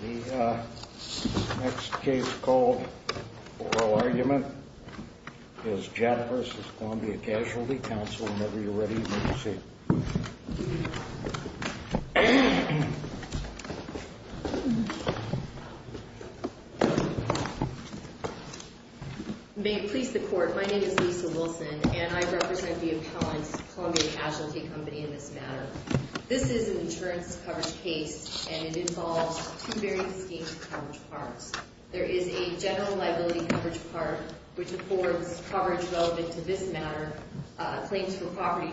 The next case called Oral Argument is Jett v. Columbia Casualty Co. Whenever you're ready, please proceed. May it please the Court, my name is Lisa Wilson, and I represent the appellant's Columbia Casualty Company in this matter. This is an insurance coverage case, and it involves two very distinct coverage parts. There is a general liability coverage part, which affords coverage relevant to this matter, claims for property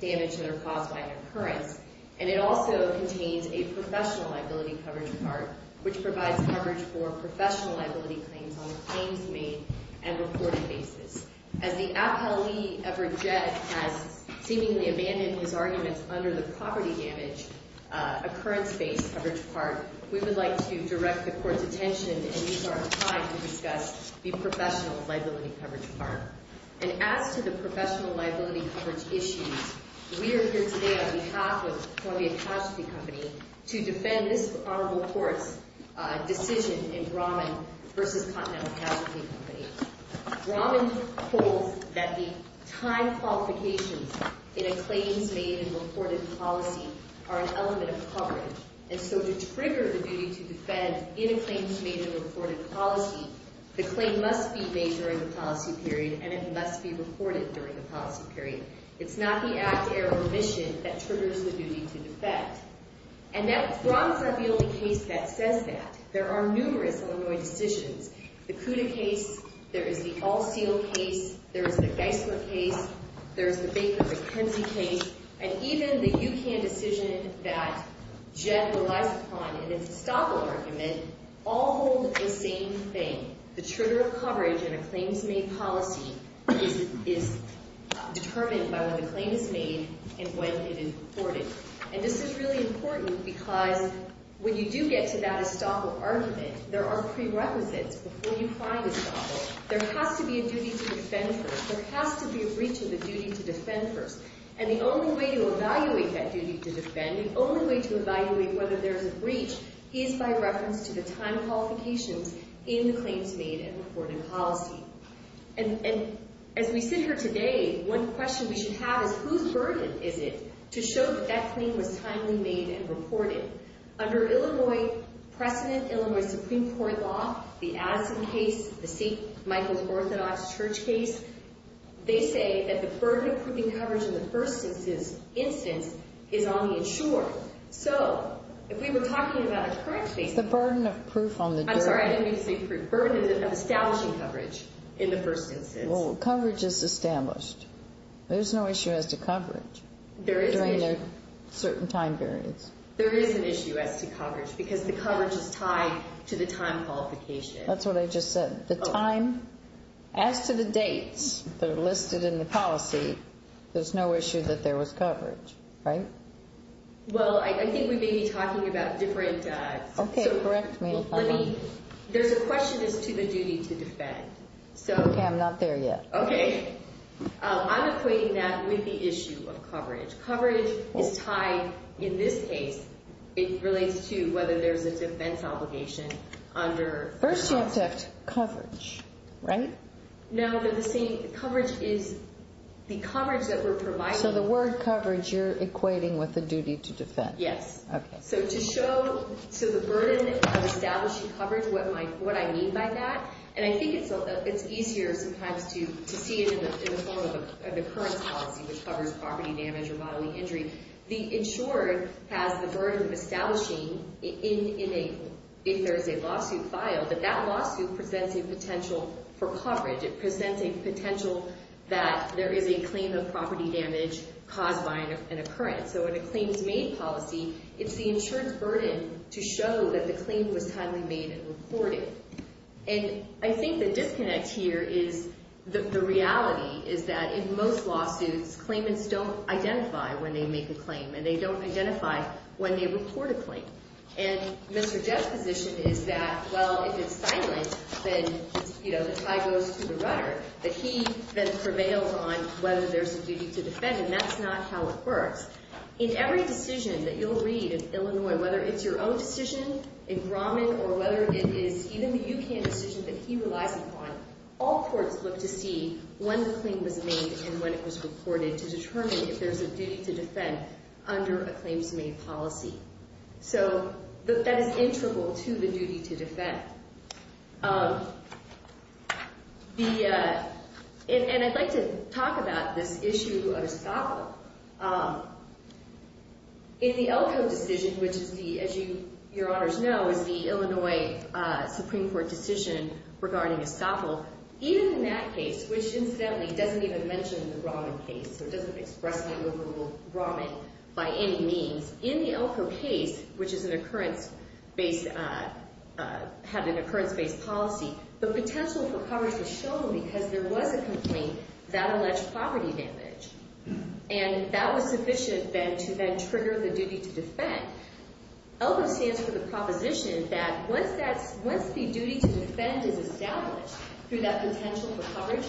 damage that are caused by an occurrence. And it also contains a professional liability coverage part, which provides coverage for professional liability claims on the claims made and reported basis. As the appellee, Everett Jett, has seemingly abandoned his arguments under the poverty damage occurrence-based coverage part, we would like to direct the Court's attention and use our time to discuss the professional liability coverage part. And as to the professional liability coverage issues, we are here today on behalf of Columbia Casualty Company to defend this Honorable Court's decision in Brahman v. Continental Casualty Company. Brahman holds that the time qualifications in a claims-made-and-reported policy are an element of coverage. And so to trigger the duty to defend in a claims-made-and-reported policy, the claim must be made during the policy period, and it must be reported during the policy period. It's not the act, error, or omission that triggers the duty to defend. And Brahman's not the only case that says that. There are numerous Illinois decisions. The Cuda case. There is the All-Seal case. There is the Geisler case. There is the Baker-McKenzie case. And even the UCAN decision that Jett relies upon in its estoppel argument all hold the same thing. The trigger of coverage in a claims-made policy is determined by when the claim is made and when it is reported. And this is really important because when you do get to that estoppel argument, there are prerequisites before you find estoppel. There has to be a duty to defend first. There has to be a breach of the duty to defend first. And the only way to evaluate that duty to defend, the only way to evaluate whether there is a breach, is by reference to the time qualifications in the claims-made-and-reported policy. And as we sit here today, one question we should have is, whose burden is it to show that that claim was timely made and reported? Under Illinois precedent, Illinois Supreme Court law, the Addison case, the St. Michael's Orthodox Church case, they say that the burden of proving coverage in the first instance is on the insured. So, if we were talking about a current case... The burden of proof on the... I'm sorry, I didn't mean to say proof. Burden of establishing coverage in the first instance. Well, coverage is established. There's no issue as to coverage during a certain time variance. There is an issue as to coverage because the coverage is tied to the time qualification. That's what I just said. The time, as to the dates that are listed in the policy, there's no issue that there was coverage, right? Well, I think we may be talking about different... Okay, correct me if I'm wrong. Let me... There's a question as to the duty to defend. Okay, I'm not there yet. Okay. I'm equating that with the issue of coverage. Coverage is tied, in this case, it relates to whether there's a defense obligation under... First, you have to have coverage, right? No, they're the same. The coverage is... The coverage that we're providing... So, the word coverage, you're equating with the duty to defend. Yes. Okay. So, to show to the burden of establishing coverage, what I mean by that, and I think it's easier sometimes to see it in the form of an occurrence policy, which covers property damage or bodily injury. The insurer has the burden of establishing, if there's a lawsuit filed, that that lawsuit presents a potential for coverage. It presents a potential that there is a claim of property damage caused by an occurrence. So, in a claims-made policy, it's the insurer's burden to show that the claim was highly made and reported. And I think the disconnect here is the reality is that in most lawsuits, claimants don't identify when they make a claim, and they don't identify when they report a claim. And Mr. Jeff's position is that, well, if it's silent, then, you know, the tie goes to the runner. But he then prevails on whether there's a duty to defend, and that's not how it works. In every decision that you'll read in Illinois, whether it's your own decision, a grommet, or whether it is even the U.K. decision that he relies upon, all courts look to see when the claim was made and when it was reported to determine if there's a duty to defend under a claims-made policy. So, that is integral to the duty to defend. And I'd like to talk about this issue of estoppel. In the Elko decision, which, as your honors know, is the Illinois Supreme Court decision regarding estoppel, even in that case, which, incidentally, doesn't even mention the grommet case, so it doesn't expressly overrule grommet by any means, in the Elko case, which had an occurrence-based policy, the potential for coverage was shown because there was a complaint that alleged poverty damage. And that was sufficient, then, to then trigger the duty to defend. Elko stands for the proposition that, once the duty to defend is established through that potential for coverage,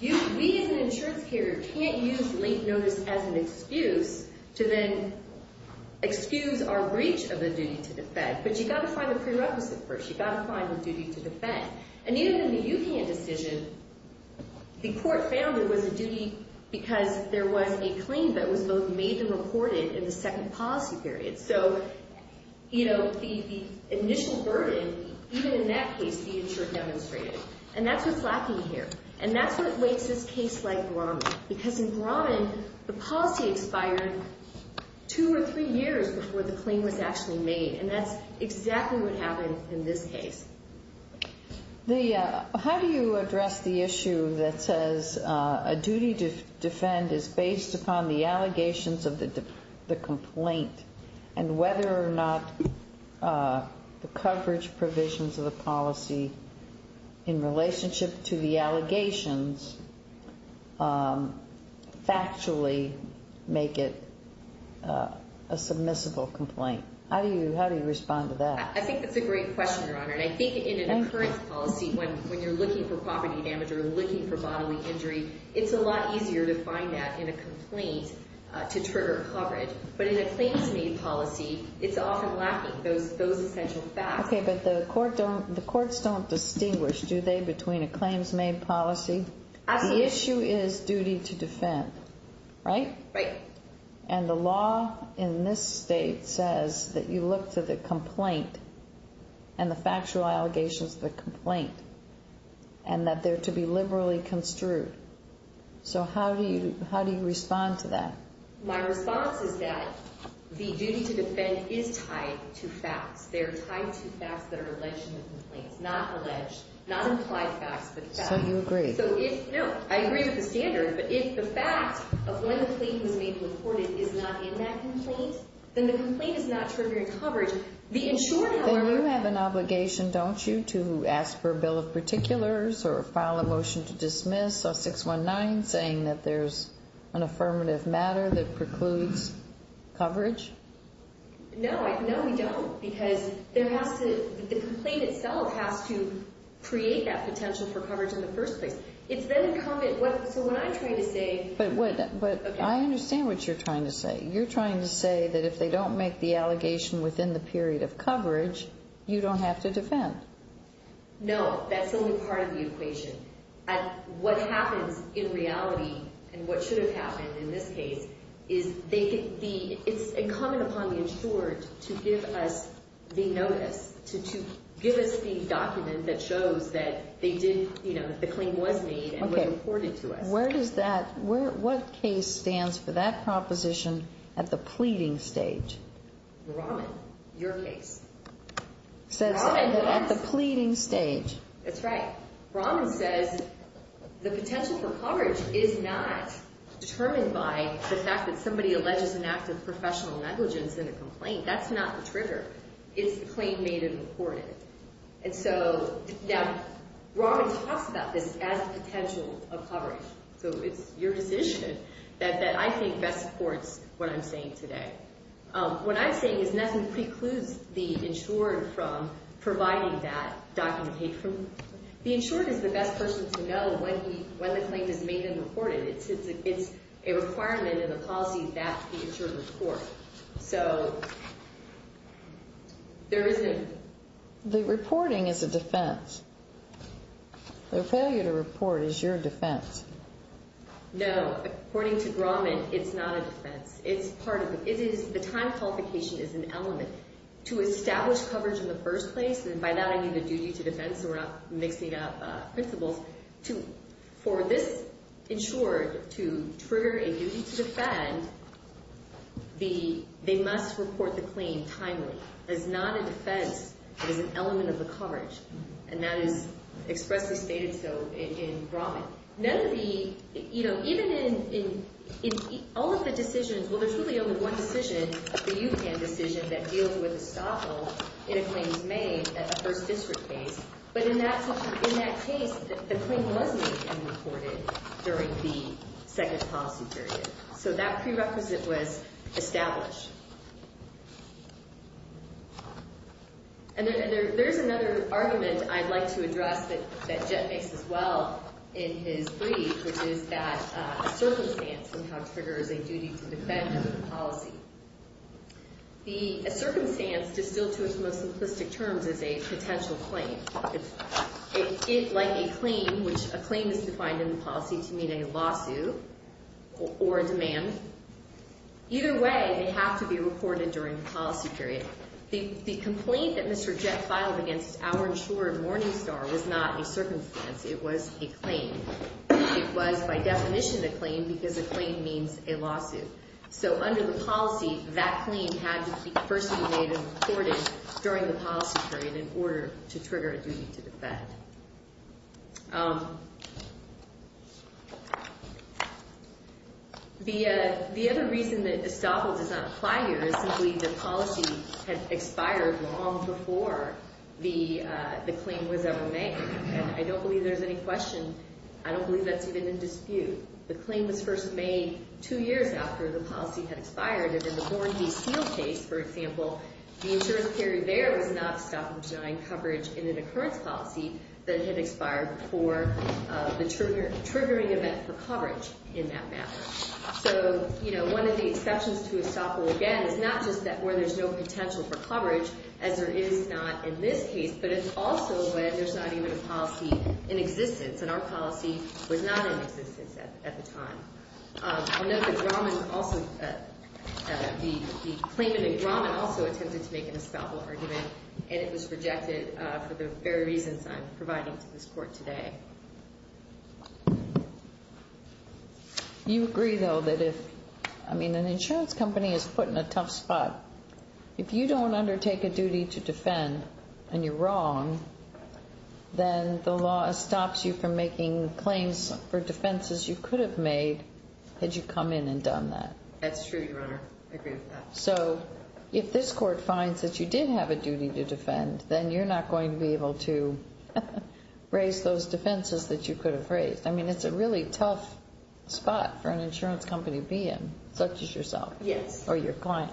we as an insurance carrier can't use late notice as an excuse to then excuse our breach of the duty to defend. But you've got to find the prerequisite first. You've got to find the duty to defend. And even in the Yukon decision, the court found there was a duty because there was a claim that was both made and reported in the second policy period. So, you know, the initial burden, even in that case, the insurer demonstrated. And that's what's lacking here. And that's what makes this case like grommet. Because in grommet, the policy expired two or three years before the claim was actually made. And that's exactly what happened in this case. How do you address the issue that says a duty to defend is based upon the allegations of the complaint and whether or not the coverage provisions of the policy in relationship to the allegations factually make it a submissible complaint? How do you respond to that? I think that's a great question, Your Honor. And I think in an occurrence policy, when you're looking for property damage or looking for bodily injury, it's a lot easier to find that in a complaint to trigger coverage. But in a claims-made policy, it's often lacking those essential facts. Okay, but the courts don't distinguish, do they, between a claims-made policy? Absolutely. The issue is duty to defend, right? Right. And the law in this state says that you look to the complaint and the factual allegations of the complaint and that they're to be liberally construed. So how do you respond to that? My response is that the duty to defend is tied to facts. They're tied to facts that are alleged in the complaint, not alleged, not implied facts, but facts. So you agree. No, I agree with the standard. But if the fact of when the complaint was made reported is not in that complaint, then the complaint is not triggering coverage. Then you have an obligation, don't you, to ask for a bill of particulars or file a motion to dismiss, a 619, saying that there's an affirmative matter that precludes coverage? No, we don't. Because the complaint itself has to create that potential for coverage in the first place. It's then incumbent. So what I'm trying to say. But I understand what you're trying to say. You're trying to say that if they don't make the allegation within the period of coverage, you don't have to defend. No, that's only part of the equation. What happens in reality, and what should have happened in this case, is it's incumbent upon the insured to give us the notice, to give us the document that shows that the claim was made and was reported to us. What case stands for that proposition at the pleading stage? The Rahman, your case. Rahman at the pleading stage. That's right. Rahman says the potential for coverage is not determined by the fact that somebody alleges an act of professional negligence in a complaint. That's not the trigger. It's the claim made and reported. And so Rahman talks about this as a potential of coverage. So it's your decision that I think best supports what I'm saying today. What I'm saying is nothing precludes the insured from providing that document. The insured is the best person to know when the claim is made and reported. It's a requirement in the policy that the insured report. So there isn't – The reporting is a defense. Their failure to report is your defense. No, according to Rahman, it's not a defense. It's part of it. The time qualification is an element. To establish coverage in the first place, and by that I mean the duty to defend, so we're not mixing up principles. For this insured to trigger a duty to defend, they must report the claim timely. It is not a defense. It is an element of the coverage. And that is expressly stated so in Rahman. None of the, you know, even in all of the decisions, well, there's really only one decision, the UCAN decision, that deals with estoppel in a claims made at the first district case. But in that case, the claim was made and reported during the second policy period. So that prerequisite was established. And then there's another argument I'd like to address that Jet makes as well in his brief, which is that a circumstance somehow triggers a duty to defend under the policy. The circumstance, distilled to its most simplistic terms, is a potential claim. It's like a claim, which a claim is defined in the policy to mean a lawsuit or a demand. Either way, they have to be reported during the policy period. The complaint that Mr. Jet filed against our insured Morningstar was not a circumstance. It was a claim. It was by definition a claim because a claim means a lawsuit. So under the policy, that claim had to be first made and reported during the policy period in order to trigger a duty to defend. The other reason that estoppel does not apply here is simply the policy had expired long before the claim was ever made. And I don't believe there's any question. I don't believe that's even in dispute. The claim was first made two years after the policy had expired. And in the Born v. Seale case, for example, the insurance period there was not estoppel denying coverage in an occurrence policy that had expired before the triggering event for coverage in that matter. So, you know, one of the exceptions to estoppel, again, is not just that where there's no potential for coverage, as there is not in this case, but it's also where there's not even a policy in existence, and our policy was not in existence at the time. The claimant in Grauman also attempted to make an estoppel argument, and it was rejected for the very reasons I'm providing to this Court today. You agree, though, that if, I mean, an insurance company is put in a tough spot, if you don't undertake a duty to defend and you're wrong, then the law stops you from making claims for defenses you could have made had you come in and done that. That's true, Your Honor. I agree with that. So if this Court finds that you did have a duty to defend, then you're not going to be able to raise those defenses that you could have raised. I mean, it's a really tough spot for an insurance company to be in, such as yourself. Yes. Or your client.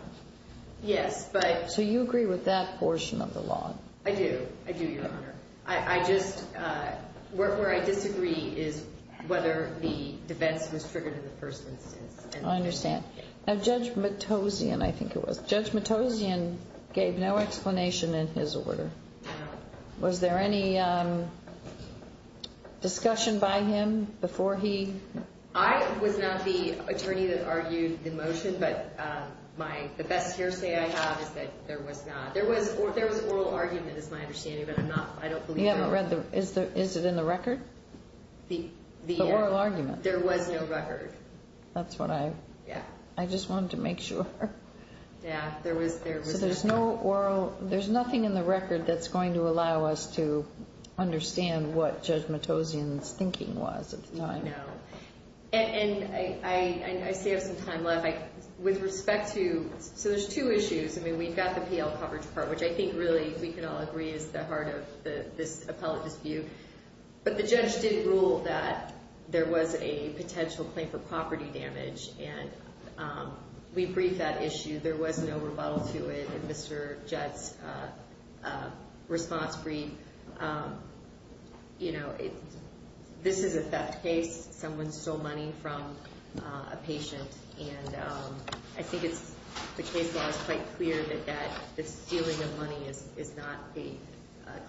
Yes, but... So you agree with that portion of the law? I do. I do, Your Honor. I just, where I disagree is whether the defense was triggered in the first instance. I understand. Now, Judge Matossian, I think it was, Judge Matossian gave no explanation in his order. No. Was there any discussion by him before he... I was not the attorney that argued the motion, but my, the best hearsay I have is that there was not, there was oral argument is my understanding, but I'm not, I don't believe... You haven't read the, is it in the record? The... The oral argument. There was no record. That's what I... Yeah. I just wanted to make sure. Yeah, there was, there was no... So there's no oral, there's nothing in the record that's going to allow us to understand what Judge Matossian's thinking was at the time. No. And I still have some time left. With respect to, so there's two issues. I mean, we've got the PL coverage part, which I think really we can all agree is the heart of this appellate dispute. But the judge did rule that there was a potential claim for property damage, and we briefed that issue. There was no rebuttal to it. In Mr. Jett's response brief, you know, this is a theft case. Someone stole money from a patient, and I think it's, the case law is quite clear that this stealing of money is not a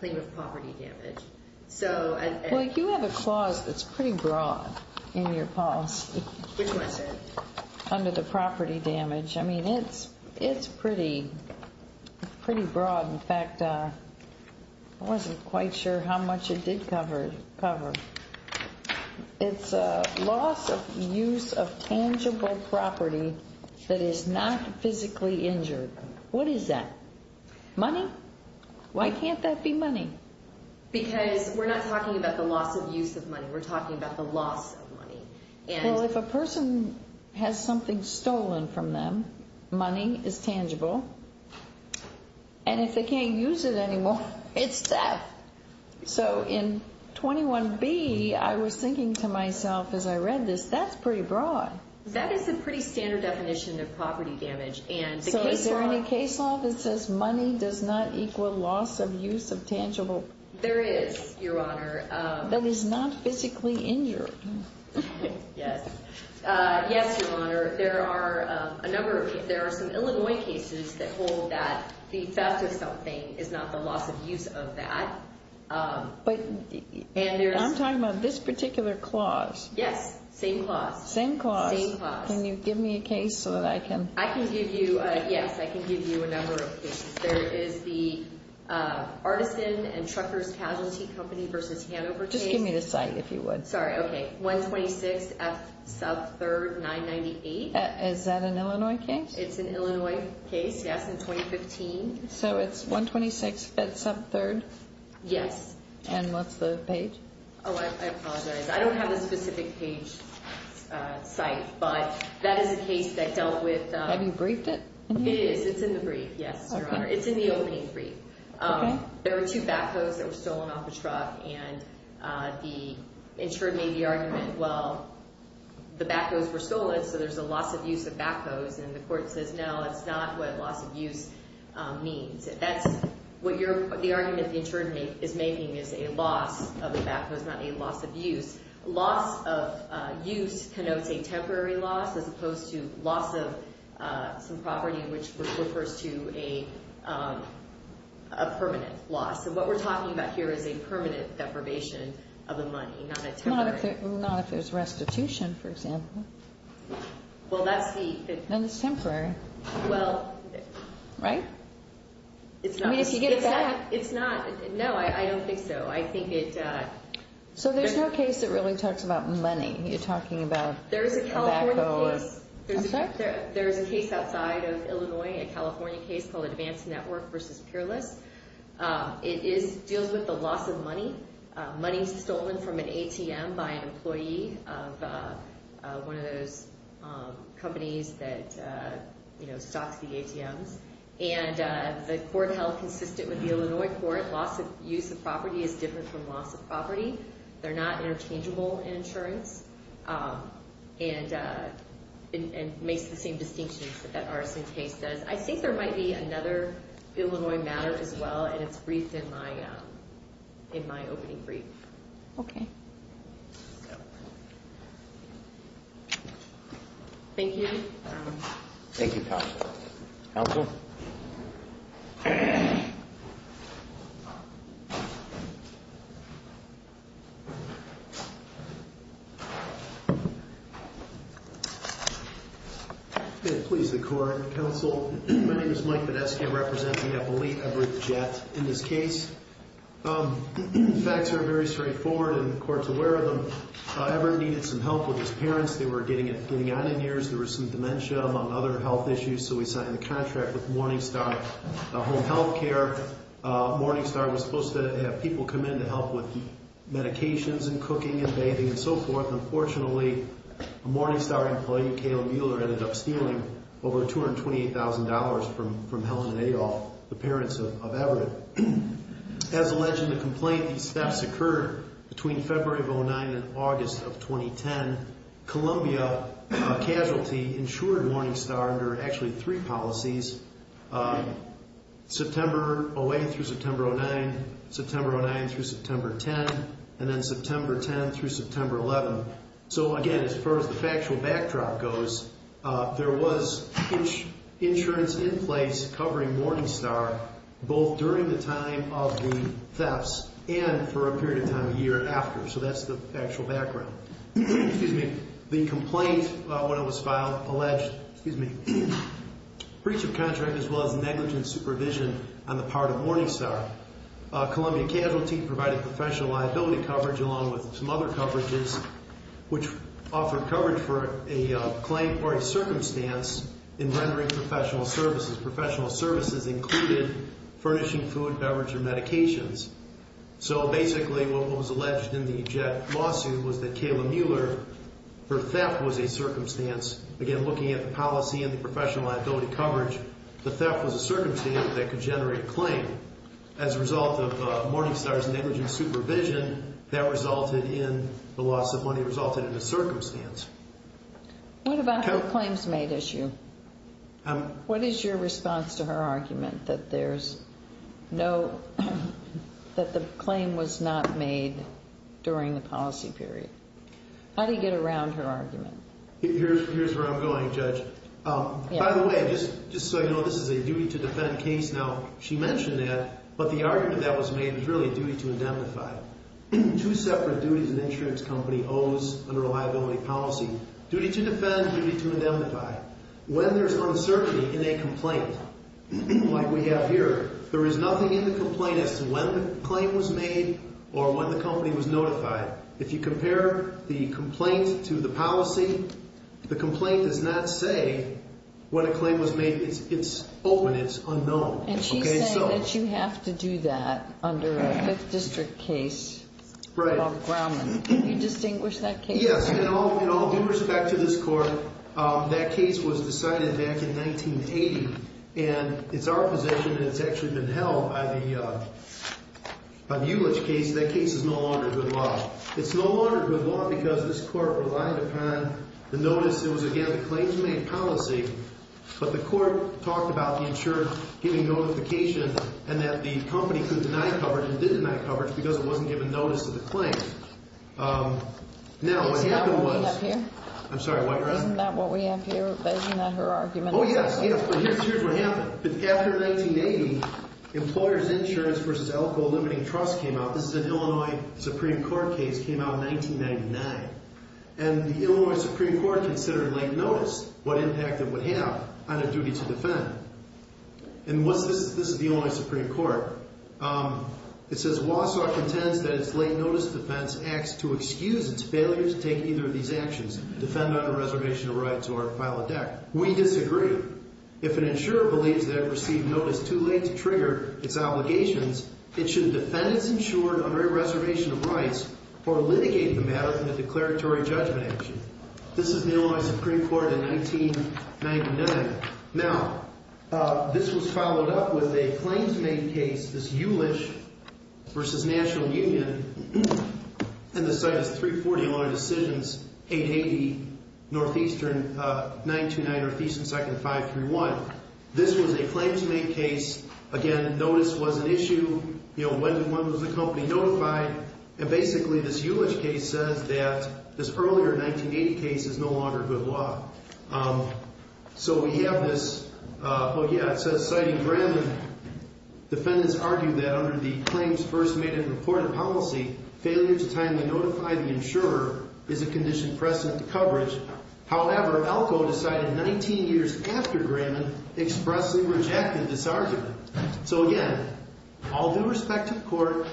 claim of property damage. So... Well, you have a clause that's pretty broad in your policy. Which one is it? Under the property damage. I mean, it's, it's pretty, pretty broad. In fact, I wasn't quite sure how much it did cover. It's a loss of use of tangible property that is not physically injured. What is that? Money? Why can't that be money? Because we're not talking about the loss of use of money. We're talking about the loss of money. Well, if a person has something stolen from them, money is tangible. And if they can't use it anymore, it's theft. So in 21B, I was thinking to myself as I read this, that's pretty broad. That is a pretty standard definition of property damage, and the case law... So is there any case law that says money does not equal loss of use of tangible... There is, Your Honor. That is not physically injured. Yes. Yes, Your Honor. There are a number of, there are some Illinois cases that hold that the theft of something is not the loss of use of that. But, and there's... I'm talking about this particular clause. Yes. Same clause. Same clause. Same clause. Can you give me a case so that I can... I can give you, yes, I can give you a number of cases. There is the Artisan and Truckers Casualty Company versus Hanover case. Just give me the site if you would. Sorry, okay. 126 F Sub 3rd 998. Is that an Illinois case? It's an Illinois case, yes, in 2015. So it's 126 F Sub 3rd? Yes. And what's the page? Oh, I apologize. I don't have a specific page site, but that is a case that dealt with... Have you briefed it? It is. It's in the brief, yes, Your Honor. It's in the opening brief. Okay. There were two backhoes that were stolen off the truck, and the insured made the argument, well, the backhoes were stolen, so there's a loss of use of backhoes. And the court says, no, that's not what loss of use means. That's what the argument the insured is making is a loss of the backhoes, not a loss of use. Loss of use connotes a temporary loss as opposed to loss of some property, which refers to a permanent loss. So what we're talking about here is a permanent deprivation of the money, not a temporary... Not if there's restitution, for example. Well, that's the... Then it's temporary. Well... Right? I mean, if you get back... It's not. No, I don't think so. I think it... So there's no case that really talks about money. You're talking about a backhoe... There's a California case. I'm sorry? There's a case outside of Illinois, a California case called Advanced Network v. Peerless. It deals with the loss of money, money stolen from an ATM by an employee of one of those companies that stocks the ATMs. And the court held consistent with the Illinois court, loss of use of property is different from loss of property. They're not interchangeable in insurance. And it makes the same distinction that that Arson case does. I think there might be another Illinois matter as well, and it's briefed in my opening brief. Okay. Thank you. Thank you, counsel. Counsel? Please, the court, counsel. My name is Mike Badesky. I represent the Epoly Everett Jett in this case. The facts are very straightforward and the court's aware of them. Everett needed some help with his parents. They were getting on in years. There was some dementia, among other health issues, so we signed a contract with Morningstar Home Health Care. Morningstar was supposed to have people come in to help with medications and cooking and bathing and so forth. Unfortunately, a Morningstar employee, Kayla Mueller, ended up stealing over $228,000 from Helen and Adolph, the parents of Everett. As alleged in the complaint, these thefts occurred between February of 2009 and August of 2010. Columbia Casualty insured Morningstar under actually three policies, September 08 through September 09, September 09 through September 10, and then September 10 through September 11. So, again, as far as the factual backdrop goes, there was insurance in place covering Morningstar both during the time of the thefts and for a period of time a year after. So that's the actual background. The complaint, when it was filed, alleged breach of contract as well as negligent supervision on the part of Morningstar. Columbia Casualty provided professional liability coverage along with some other coverages, which offered coverage for a claim or a circumstance in rendering professional services. Professional services included furnishing food, beverage, or medications. So, basically, what was alleged in the jet lawsuit was that Kayla Mueller, her theft was a circumstance. Again, looking at the policy and the professional liability coverage, the theft was a circumstance that could generate a claim. As a result of Morningstar's negligent supervision, that resulted in the loss of money, resulted in a circumstance. What about her claims made issue? What is your response to her argument that the claim was not made during the policy period? How do you get around her argument? Here's where I'm going, Judge. By the way, just so you know, this is a duty to defend case. Now, she mentioned that, but the argument that was made was really a duty to indemnify. Two separate duties an insurance company owes under a liability policy. Duty to defend, duty to indemnify. When there's uncertainty in a complaint, like we have here, there is nothing in the complaint as to when the claim was made or when the company was notified. If you compare the complaint to the policy, the complaint does not say when a claim was made. It's open. It's unknown. And she's saying that you have to do that under a Fifth District case. Right. Can you distinguish that case? Yes. In all due respect to this Court, that case was decided back in 1980. And it's our position that it's actually been held by the Eulich case. That case is no longer good law. It's no longer good law because this Court relied upon the notice. It was, again, a claims-made policy. But the Court talked about the insurer giving notification and that the company could deny coverage and didn't deny coverage because it wasn't given notice to the claim. Now, what happened was… Isn't that what we have here? I'm sorry, what, Ron? Isn't that what we have here? Isn't that her argument? Oh, yes. Yes. But here's what happened. After 1980, Employers Insurance v. Elko Limiting Trust came out. This is an Illinois Supreme Court case. It came out in 1999. And the Illinois Supreme Court considered late notice, what impact it would have on a duty to defend. And this is the Illinois Supreme Court. It says, This is the Illinois Supreme Court in 1999. Now, this was followed up with a claims-made case, this Eulich v. National Union, in the Citus 340 Illinois Decisions, 880 Northeastern, 929 Northeastern 2nd and 531. This was a claims-made case. Again, notice was an issue. You know, when was the company notified? And basically, this Eulich case says that this earlier 1980 case is no longer good law. So we have this. Oh, yeah, it says, So, again, all due respect to the Court,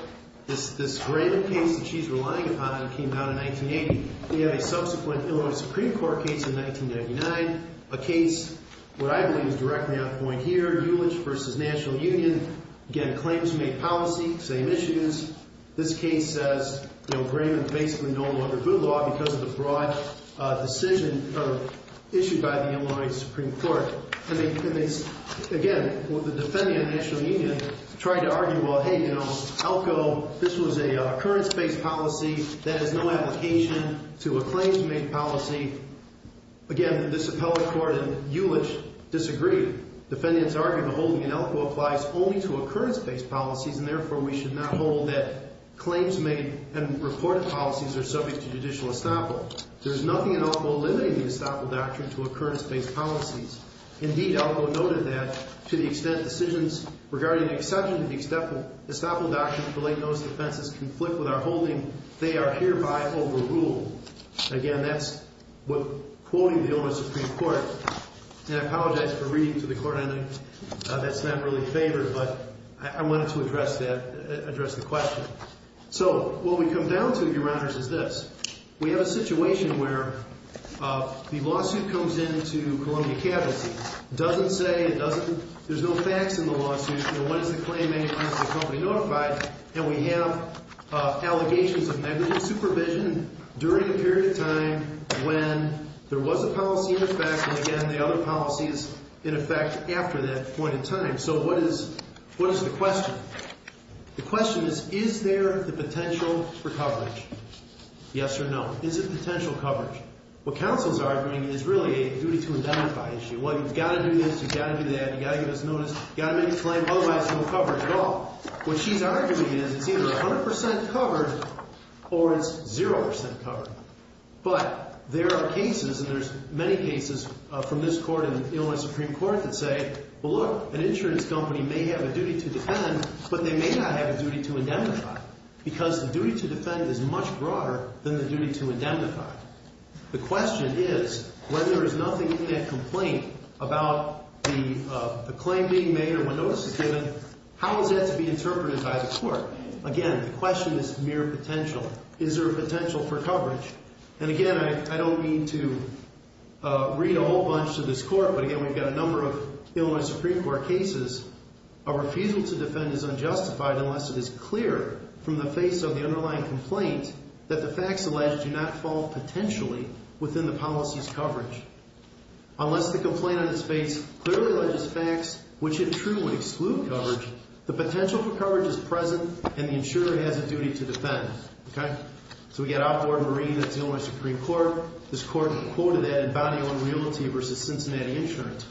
this Grannon case that she's relying upon came down in 1980. We have a subsequent Illinois Supreme Court case in 1999. A case, what I believe is directly on point here, Eulich v. National Union. Again, claims-made policy, same issues. This case says, you know, Grannon's basically no longer good law because of the broad decision issued by the Illinois Supreme Court. Again, the defendant, National Union, tried to argue, well, hey, you know, ELCO, this was a occurrence-based policy that has no application to a claims-made policy. Again, this appellate court and Eulich disagree. Defendants argue the holding in ELCO applies only to occurrence-based policies, and therefore we should not hold that claims-made and reported policies are subject to judicial estoppel. There is nothing in ELCO limiting the estoppel doctrine to occurrence-based policies. Indeed, ELCO noted that, to the extent decisions regarding the exception of the estoppel doctrine for late notice offenses conflict with our holding, they are hereby overruled. Again, that's quoting the Illinois Supreme Court. And I apologize for reading to the court. I know that's not really favored, but I wanted to address that, address the question. So what we come down to, Your Honors, is this. We have a situation where the lawsuit comes in to Columbia Cabinet. It doesn't say, it doesn't, there's no facts in the lawsuit. You know, what is the claim-made policy of the company notified? And we have allegations of negligent supervision during a period of time when there was a policy in effect, and again, the other policy is in effect after that point in time. So what is, what is the question? The question is, is there the potential for coverage? Yes or no. Is it potential coverage? What counsel's arguing is really a duty-to-identify issue. Well, you've got to do this, you've got to do that, you've got to give us notice, you've got to make a claim, otherwise there's no coverage at all. What she's arguing is it's either 100% covered or it's 0% covered. But there are cases, and there's many cases from this court and Illinois Supreme Court that say, well, look, an insurance company may have a duty to defend, but they may not have a duty to indemnify, because the duty to defend is much broader than the duty to indemnify. The question is, when there is nothing in that complaint about the claim being made or when notice is given, how is that to be interpreted by the court? Again, the question is mere potential. Is there a potential for coverage? And again, I don't mean to read a whole bunch to this court, but again, we've got a number of Illinois Supreme Court cases. A refusal to defend is unjustified unless it is clear from the face of the underlying complaint that the facts alleged do not fall potentially within the policy's coverage. Unless the complaint on its face clearly alleges facts which in true would exclude coverage, the potential for coverage is present and the insurer has a duty to defend. So we've got outlawed marine, that's the Illinois Supreme Court. This court quoted that in Bounty Owned Realty versus Cincinnati Insurance.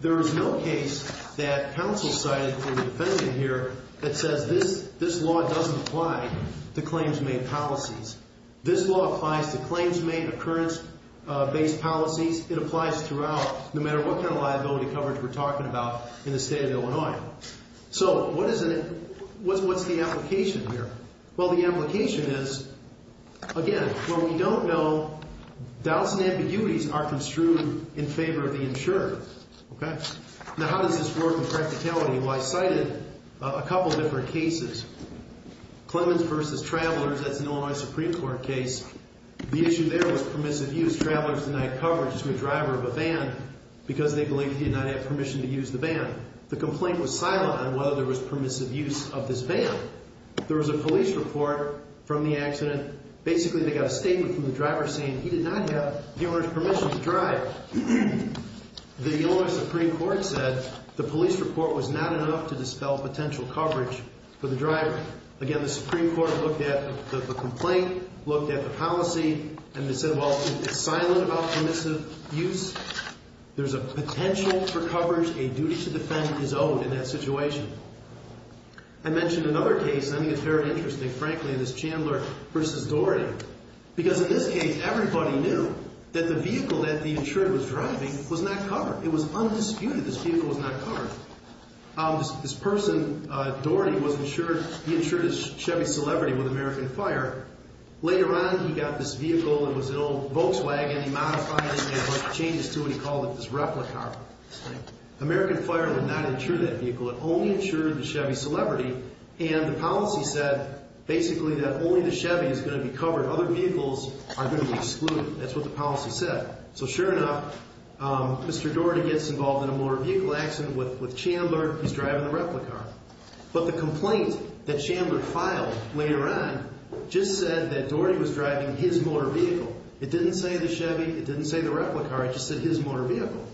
There is no case that counsel cited for the defendant here that says this law doesn't apply to claims made policies. This law applies to claims made occurrence-based policies. It applies throughout no matter what kind of liability coverage we're talking about in the state of Illinois. So what's the application here? Well, the application is, again, when we don't know, doubts and ambiguities are construed in favor of the insurer. Now how does this work in practicality? Well, I cited a couple of different cases. Clemens versus Travelers, that's an Illinois Supreme Court case. The issue there was permissive use. Travelers denied coverage to a driver of a van because they believe he did not have permission to use the van. The complaint was silent on whether there was permissive use of this van. There was a police report from the accident. Basically, they got a statement from the driver saying he did not have the owner's permission to drive. The Illinois Supreme Court said the police report was not enough to dispel potential coverage for the driver. Again, the Supreme Court looked at the complaint, looked at the policy, and they said, well, it's silent about permissive use. There's a potential for coverage. A duty to defend is owed in that situation. I mentioned another case, and I think it's very interesting, frankly, and it's Chandler versus Doherty. Because in this case, everybody knew that the vehicle that the insured was driving was not covered. It was undisputed this vehicle was not covered. This person, Doherty, was insured. He insured his Chevy Celebrity with American Fire. Later on, he got this vehicle. It was an old Volkswagen. He modified it. He made a bunch of changes to it. He called it his replica. American Fire would not insure that vehicle. It only insured the Chevy Celebrity. And the policy said, basically, that only the Chevy is going to be covered. Other vehicles are going to be excluded. That's what the policy said. So, sure enough, Mr. Doherty gets involved in a motor vehicle accident with Chandler. He's driving the replica. But the complaint that Chandler filed later on just said that Doherty was driving his motor vehicle. It didn't say the Chevy. It didn't say the replica. It just said his motor vehicle.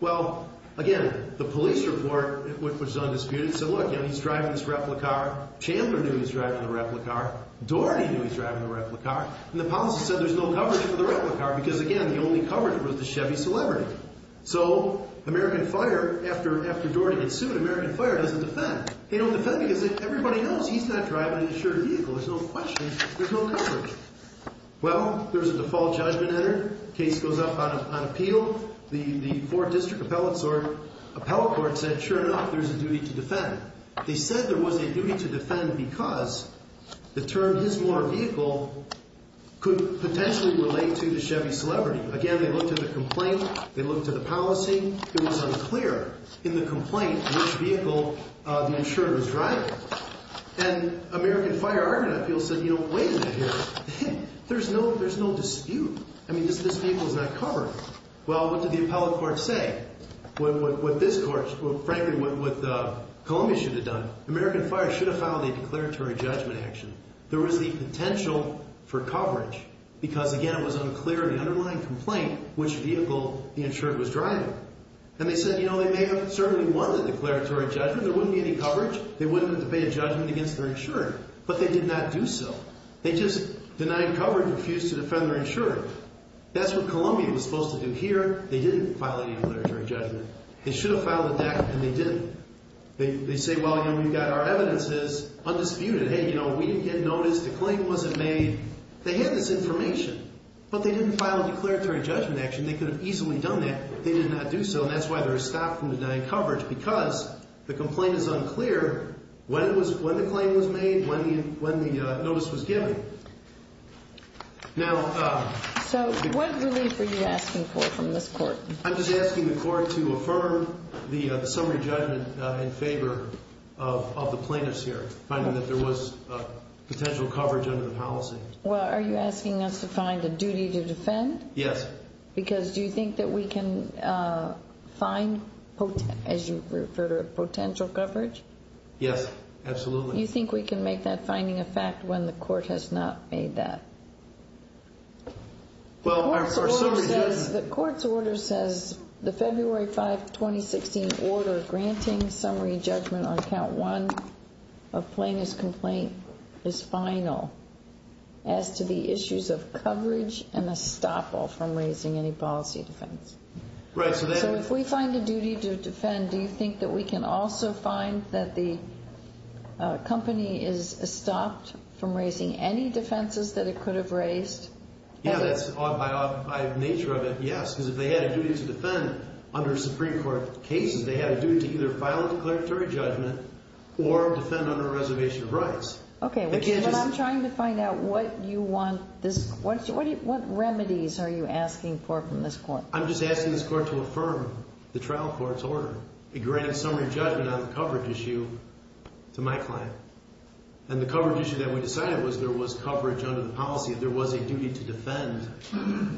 Well, again, the police report was undisputed. So, look, he's driving this replica. Chandler knew he was driving the replica. Doherty knew he was driving the replica. And the policy said there's no coverage for the replica because, again, the only coverage was the Chevy Celebrity. So, American Fire, after Doherty gets sued, American Fire doesn't defend. They don't defend because everybody knows he's not driving an insured vehicle. There's no question. There's no coverage. Well, there's a default judgment entered. The case goes up on appeal. The 4th District Appellate Court said, sure enough, there's a duty to defend. They said there was a duty to defend because the term his motor vehicle could potentially relate to the Chevy Celebrity. Again, they looked at the complaint. They looked at the policy. It was unclear in the complaint which vehicle the insurer was driving. And American Fire argument, I feel, said, you know, wait a minute here. There's no dispute. I mean, this vehicle is not covered. Well, what did the appellate court say? What this court, frankly, what Columbia should have done, American Fire should have filed a declaratory judgment action. There was the potential for coverage because, again, it was unclear in the underlying complaint which vehicle the insurer was driving. And they said, you know, they may have certainly won the declaratory judgment. There wouldn't be any coverage. They wouldn't have to pay a judgment against their insurer. But they did not do so. They just denied coverage, refused to defend their insurer. That's what Columbia was supposed to do here. They didn't file any declaratory judgment. They should have filed a DAC, and they didn't. They say, well, you know, we've got our evidences undisputed. Hey, you know, we didn't get notice. The claim wasn't made. They had this information, but they didn't file a declaratory judgment action. They could have easily done that. They did not do so, and that's why they were stopped from denying coverage because the complaint is unclear when the claim was made, when the notice was given. So what relief are you asking for from this court? I'm just asking the court to affirm the summary judgment in favor of the plaintiffs here, finding that there was potential coverage under the policy. Well, are you asking us to find a duty to defend? Yes. Because do you think that we can find, as you refer to it, potential coverage? Yes, absolutely. Do you think we can make that finding a fact when the court has not made that? Well, our summary judgment… The court's order says the February 5, 2016, order granting summary judgment on count one of plaintiff's complaint is final as to the issues of coverage and estoppel from raising any policy defense. Right. So if we find a duty to defend, do you think that we can also find that the company is estopped from raising any defenses that it could have raised? Yeah, that's by nature of it, yes. Because if they had a duty to defend under Supreme Court cases, they had a duty to either file a declaratory judgment or defend under a reservation of rights. Okay, but I'm trying to find out what you want this… What remedies are you asking for from this court? I'm just asking this court to affirm the trial court's order. It granted summary judgment on the coverage issue to my client. And the coverage issue that we decided was there was coverage under the policy. If there was a duty to defend,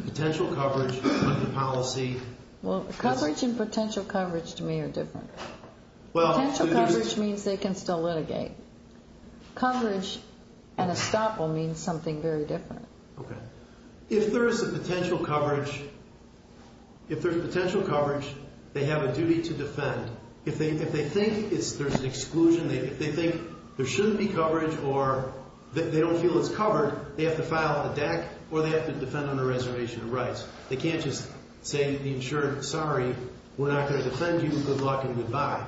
potential coverage under the policy… Well, coverage and potential coverage to me are different. Potential coverage means they can still litigate. Coverage and estoppel means something very different. Okay. If there is a potential coverage, if there's potential coverage, they have a duty to defend. If they think there's an exclusion, if they think there shouldn't be coverage or they don't feel it's covered, they have to file a DAC or they have to defend under a reservation of rights. They can't just say to the insured, sorry, we're not going to defend you. Good luck and goodbye.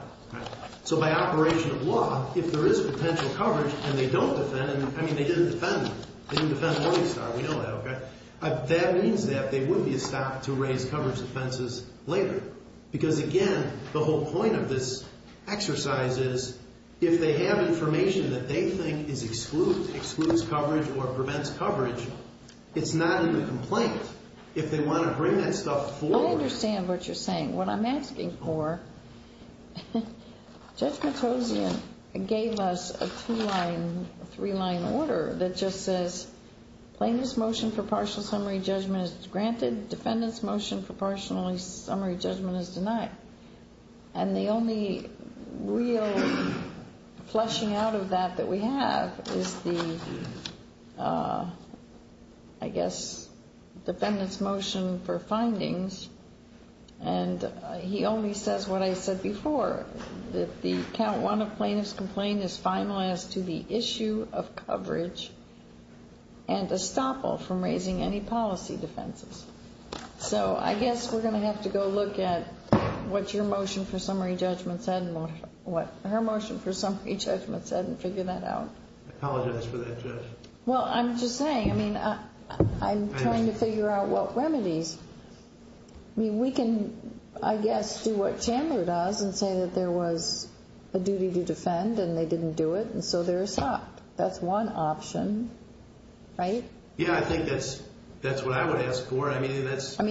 So by operation of law, if there is potential coverage and they don't defend, I mean they didn't defend them. They didn't defend Morningstar, we know that. That means that they would be estopped to raise coverage offenses later. Because, again, the whole point of this exercise is if they have information that they think is excluded, excludes coverage or prevents coverage, it's not even a complaint. If they want to bring that stuff forward… I understand what you're saying. What I'm asking for, Judge Matossian gave us a two-line, three-line order that just says plaintiff's motion for partial summary judgment is granted, defendant's motion for partial summary judgment is denied. And the only real fleshing out of that that we have is the, I guess, defendant's motion for findings. And he only says what I said before, that the count one of plaintiff's complaint is finalized to the issue of coverage and estoppel from raising any policy defenses. So, I guess we're going to have to go look at what your motion for summary judgment said and what her motion for summary judgment said and figure that out. I apologize for that, Judge. Well, I'm just saying, I mean, I'm trying to figure out what remedies. I mean, we can, I guess, do what Chandler does and say that there was a duty to defend and they didn't do it and so they're estopped. That's one option, right? Yeah, I think that's what I would ask for. I mean,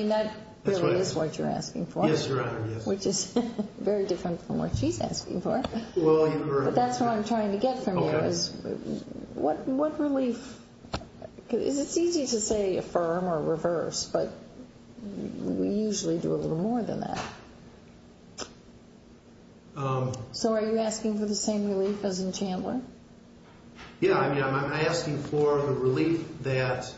that really is what you're asking for. Yes, Your Honor, yes. Which is very different from what she's asking for. Well, you're correct. But that's what I'm trying to get from you is what relief, because it's easy to say affirm or reverse, but we usually do a little more than that. So, are you asking for the same relief as in Chandler? Yeah, I mean, I'm asking for the relief that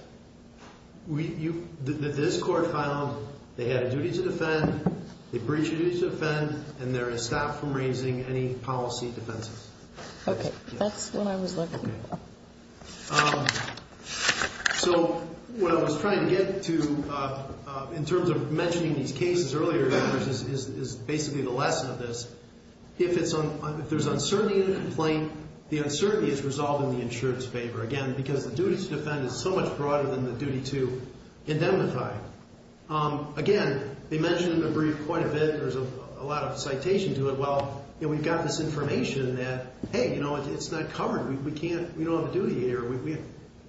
this court found they had a duty to defend, they breached a duty to defend, and they're estopped from raising any policy defenses. Okay, that's what I was looking for. So, what I was trying to get to in terms of mentioning these cases earlier is basically the lesson of this. If there's uncertainty in a complaint, the uncertainty is resolved in the insurer's favor. Again, because the duty to defend is so much broader than the duty to indemnify. Again, they mentioned in the brief quite a bit, there's a lot of citation to it. Well, we've got this information that, hey, it's not covered. We don't have a duty here.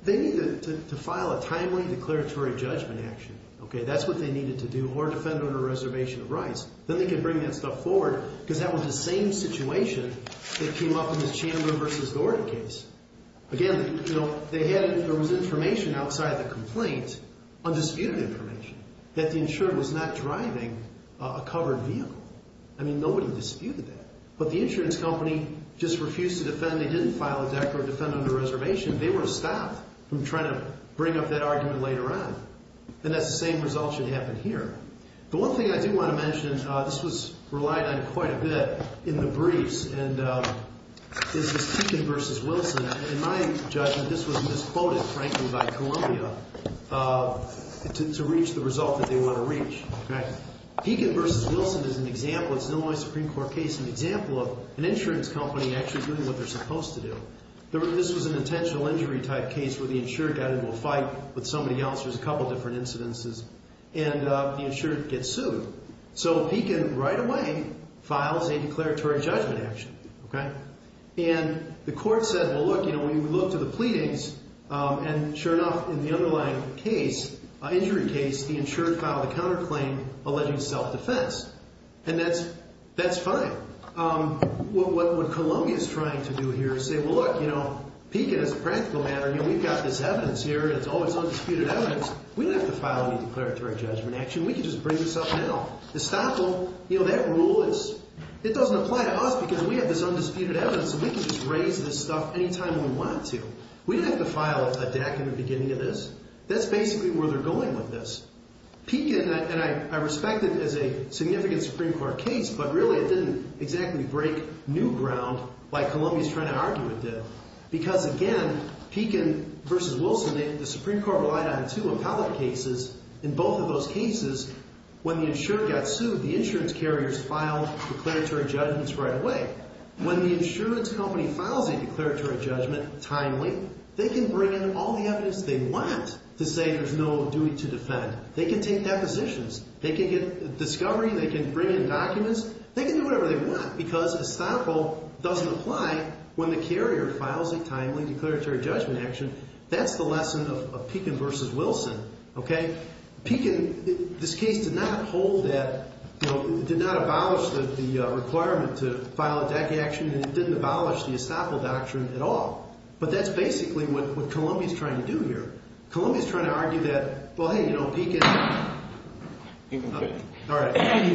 They need to file a timely declaratory judgment action. Okay, that's what they needed to do, or defend under a reservation of rights. Then they can bring that stuff forward, because that was the same situation that came up in this Chandler v. Gordon case. Again, there was information outside the complaint, undisputed information, that the insurer was not driving a covered vehicle. I mean, nobody disputed that. But the insurance company just refused to defend. They didn't file a declarative defendant under reservation. They were stopped from trying to bring up that argument later on. And that's the same result should happen here. The one thing I do want to mention, this was relied on quite a bit in the briefs, and this is Pekin v. Wilson. In my judgment, this was misquoted, frankly, by Columbia to reach the result that they want to reach. Pekin v. Wilson is an example. It's an Illinois Supreme Court case, an example of an insurance company actually doing what they're supposed to do. This was an intentional injury type case where the insurer got into a fight with somebody else. There's a couple different incidences. And the insurer gets sued. So Pekin right away files a declaratory judgment action. And the court said, well, look, when you look to the pleadings, and sure enough, in the underlying injury case, the insurer filed a counterclaim alleging self-defense. And that's fine. What Columbia is trying to do here is say, well, look, you know, Pekin is a practical matter. You know, we've got this evidence here. It's all this undisputed evidence. We don't have to file any declaratory judgment action. We can just bring this up now. Estoppel, you know, that rule, it doesn't apply to us because we have this undisputed evidence, and we can just raise this stuff any time we want to. We don't have to file a DAC in the beginning of this. That's basically where they're going with this. Pekin, and I respect it as a significant Supreme Court case, but really it didn't exactly break new ground like Columbia is trying to argue it did. Because, again, Pekin versus Wilson, the Supreme Court relied on two appellate cases. In both of those cases, when the insurer got sued, the insurance carriers filed declaratory judgments right away. When the insurance company files a declaratory judgment timely, they can bring in all the evidence they want to say there's no duty to defend. They can take depositions. They can get discovery. They can bring in documents. They can do whatever they want because Estoppel doesn't apply when the carrier files a timely declaratory judgment action. That's the lesson of Pekin versus Wilson, okay? Pekin, this case did not hold that, did not abolish the requirement to file a DAC action, and it didn't abolish the Estoppel Doctrine at all. But that's basically what Columbia is trying to do here. Columbia is trying to argue that, well, hey, you know, Pekin, all right. Under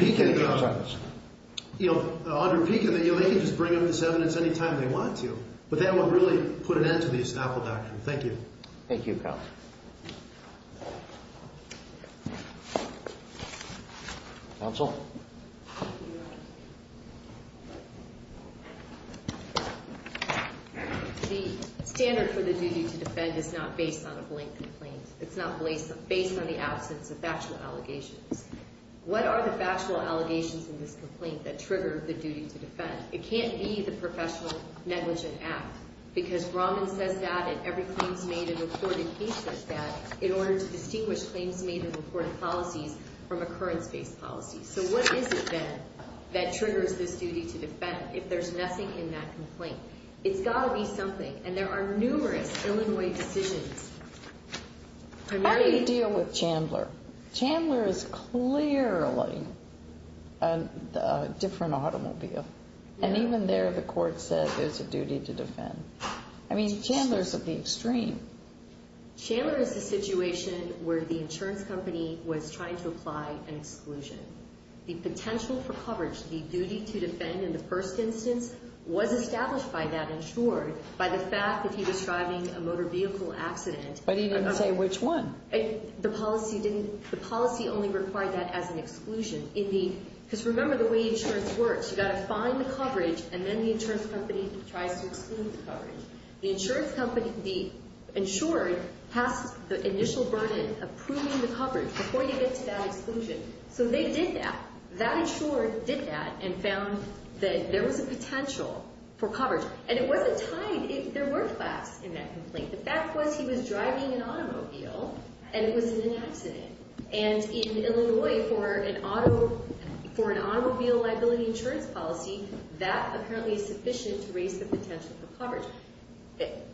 Pekin, they can just bring up this evidence any time they want to, but that would really put an end to the Estoppel Doctrine. Thank you. Thank you, Counsel. Counsel? The standard for the duty to defend is not based on a blank complaint. It's not based on the absence of factual allegations. What are the factual allegations in this complaint that trigger the duty to defend? It can't be the professional negligent act because Brahman says that in every claims made in the court, and he says that in order to distinguish claims made in the court of policies from occurrence-based policies. So what is it then that triggers this duty to defend if there's nothing in that complaint? It's got to be something, and there are numerous Illinois decisions. How do you deal with Chandler? Chandler is clearly a different automobile, and even there the court said there's a duty to defend. I mean, Chandler is at the extreme. Chandler is a situation where the insurance company was trying to apply an exclusion. The potential for coverage, the duty to defend in the first instance, was established by that insured by the fact that he was driving a motor vehicle accident. But he didn't say which one. The policy only required that as an exclusion. Because remember the way insurance works. You've got to find the coverage, and then the insurance company tries to exclude the coverage. The insured has the initial burden of proving the coverage before you get to that exclusion. So they did that. That insured did that and found that there was a potential for coverage. And it wasn't tied. There were flaps in that complaint. The fact was he was driving an automobile, and it was an accident. And in Illinois for an automobile liability insurance policy, that apparently is sufficient to raise the potential for coverage.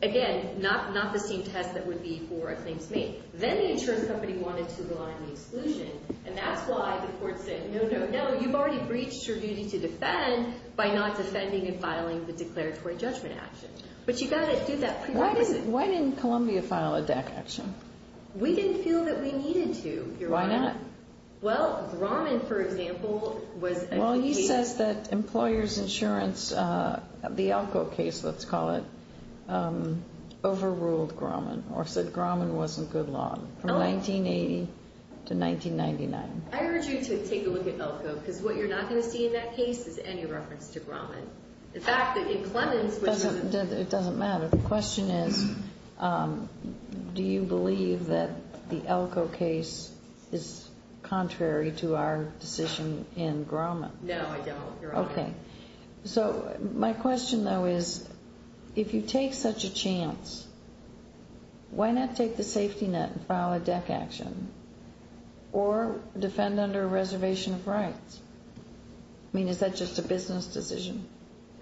Again, not the same test that would be for a claims made. Then the insurance company wanted to rely on the exclusion, and that's why the court said, no, no, no, you've already breached your duty to defend by not defending and filing the declaratory judgment action. But you've got to do that. Why didn't Columbia file a DAC action? We didn't feel that we needed to. Why not? Well, Grumman, for example, was a case. Well, he says that employers' insurance, the Elko case, let's call it, overruled Grumman or said Grumman wasn't good law from 1980 to 1999. I urge you to take a look at Elko, because what you're not going to see in that case is any reference to Grumman. The fact that in Clemens, which is- It doesn't matter. The question is, do you believe that the Elko case is contrary to our decision in Grumman? No, I don't, Your Honor. Okay. So my question, though, is, if you take such a chance, why not take the safety net and file a DAC action or defend under a reservation of rights? I mean, is that just a business decision?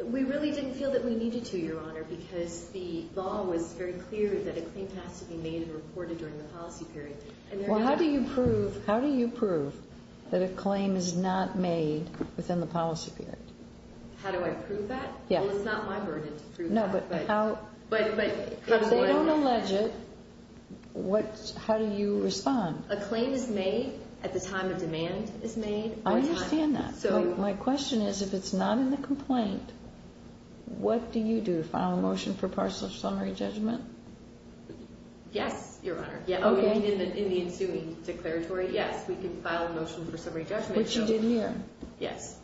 We really didn't feel that we needed to, Your Honor, because the law was very clear that a claim has to be made and reported during the policy period. Well, how do you prove that a claim is not made within the policy period? How do I prove that? Yeah. Well, it's not my burden to prove that. No, but how- But- If they don't allege it, how do you respond? A claim is made at the time a demand is made. I understand that. My question is, if it's not in the complaint, what do you do? File a motion for partial or summary judgment? Yes, Your Honor. Okay. In the ensuing declaratory, yes, we can file a motion for summary judgment. Which you did here. Yes.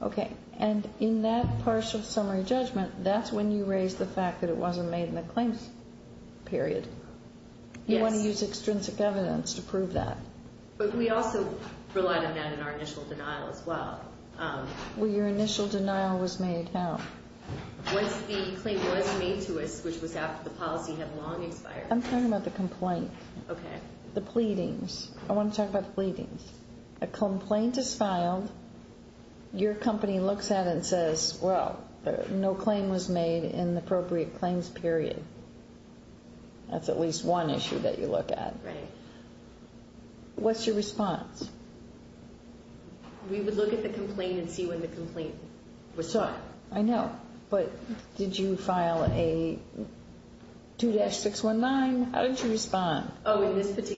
Okay. And in that partial summary judgment, that's when you raise the fact that it wasn't made in the claims period. Yes. You want to use extrinsic evidence to prove that. But we also relied on that in our initial denial as well. Well, your initial denial was made how? Once the claim was made to us, which was after the policy had long expired. I'm talking about the complaint. Okay. The pleadings. I want to talk about the pleadings. A complaint is filed. Your company looks at it and says, well, no claim was made in the appropriate claims period. That's at least one issue that you look at. Right. What's your response? We would look at the complaint and see when the complaint was sought. I know. But did you file a 2-619? How did you respond? Oh, in this particular case.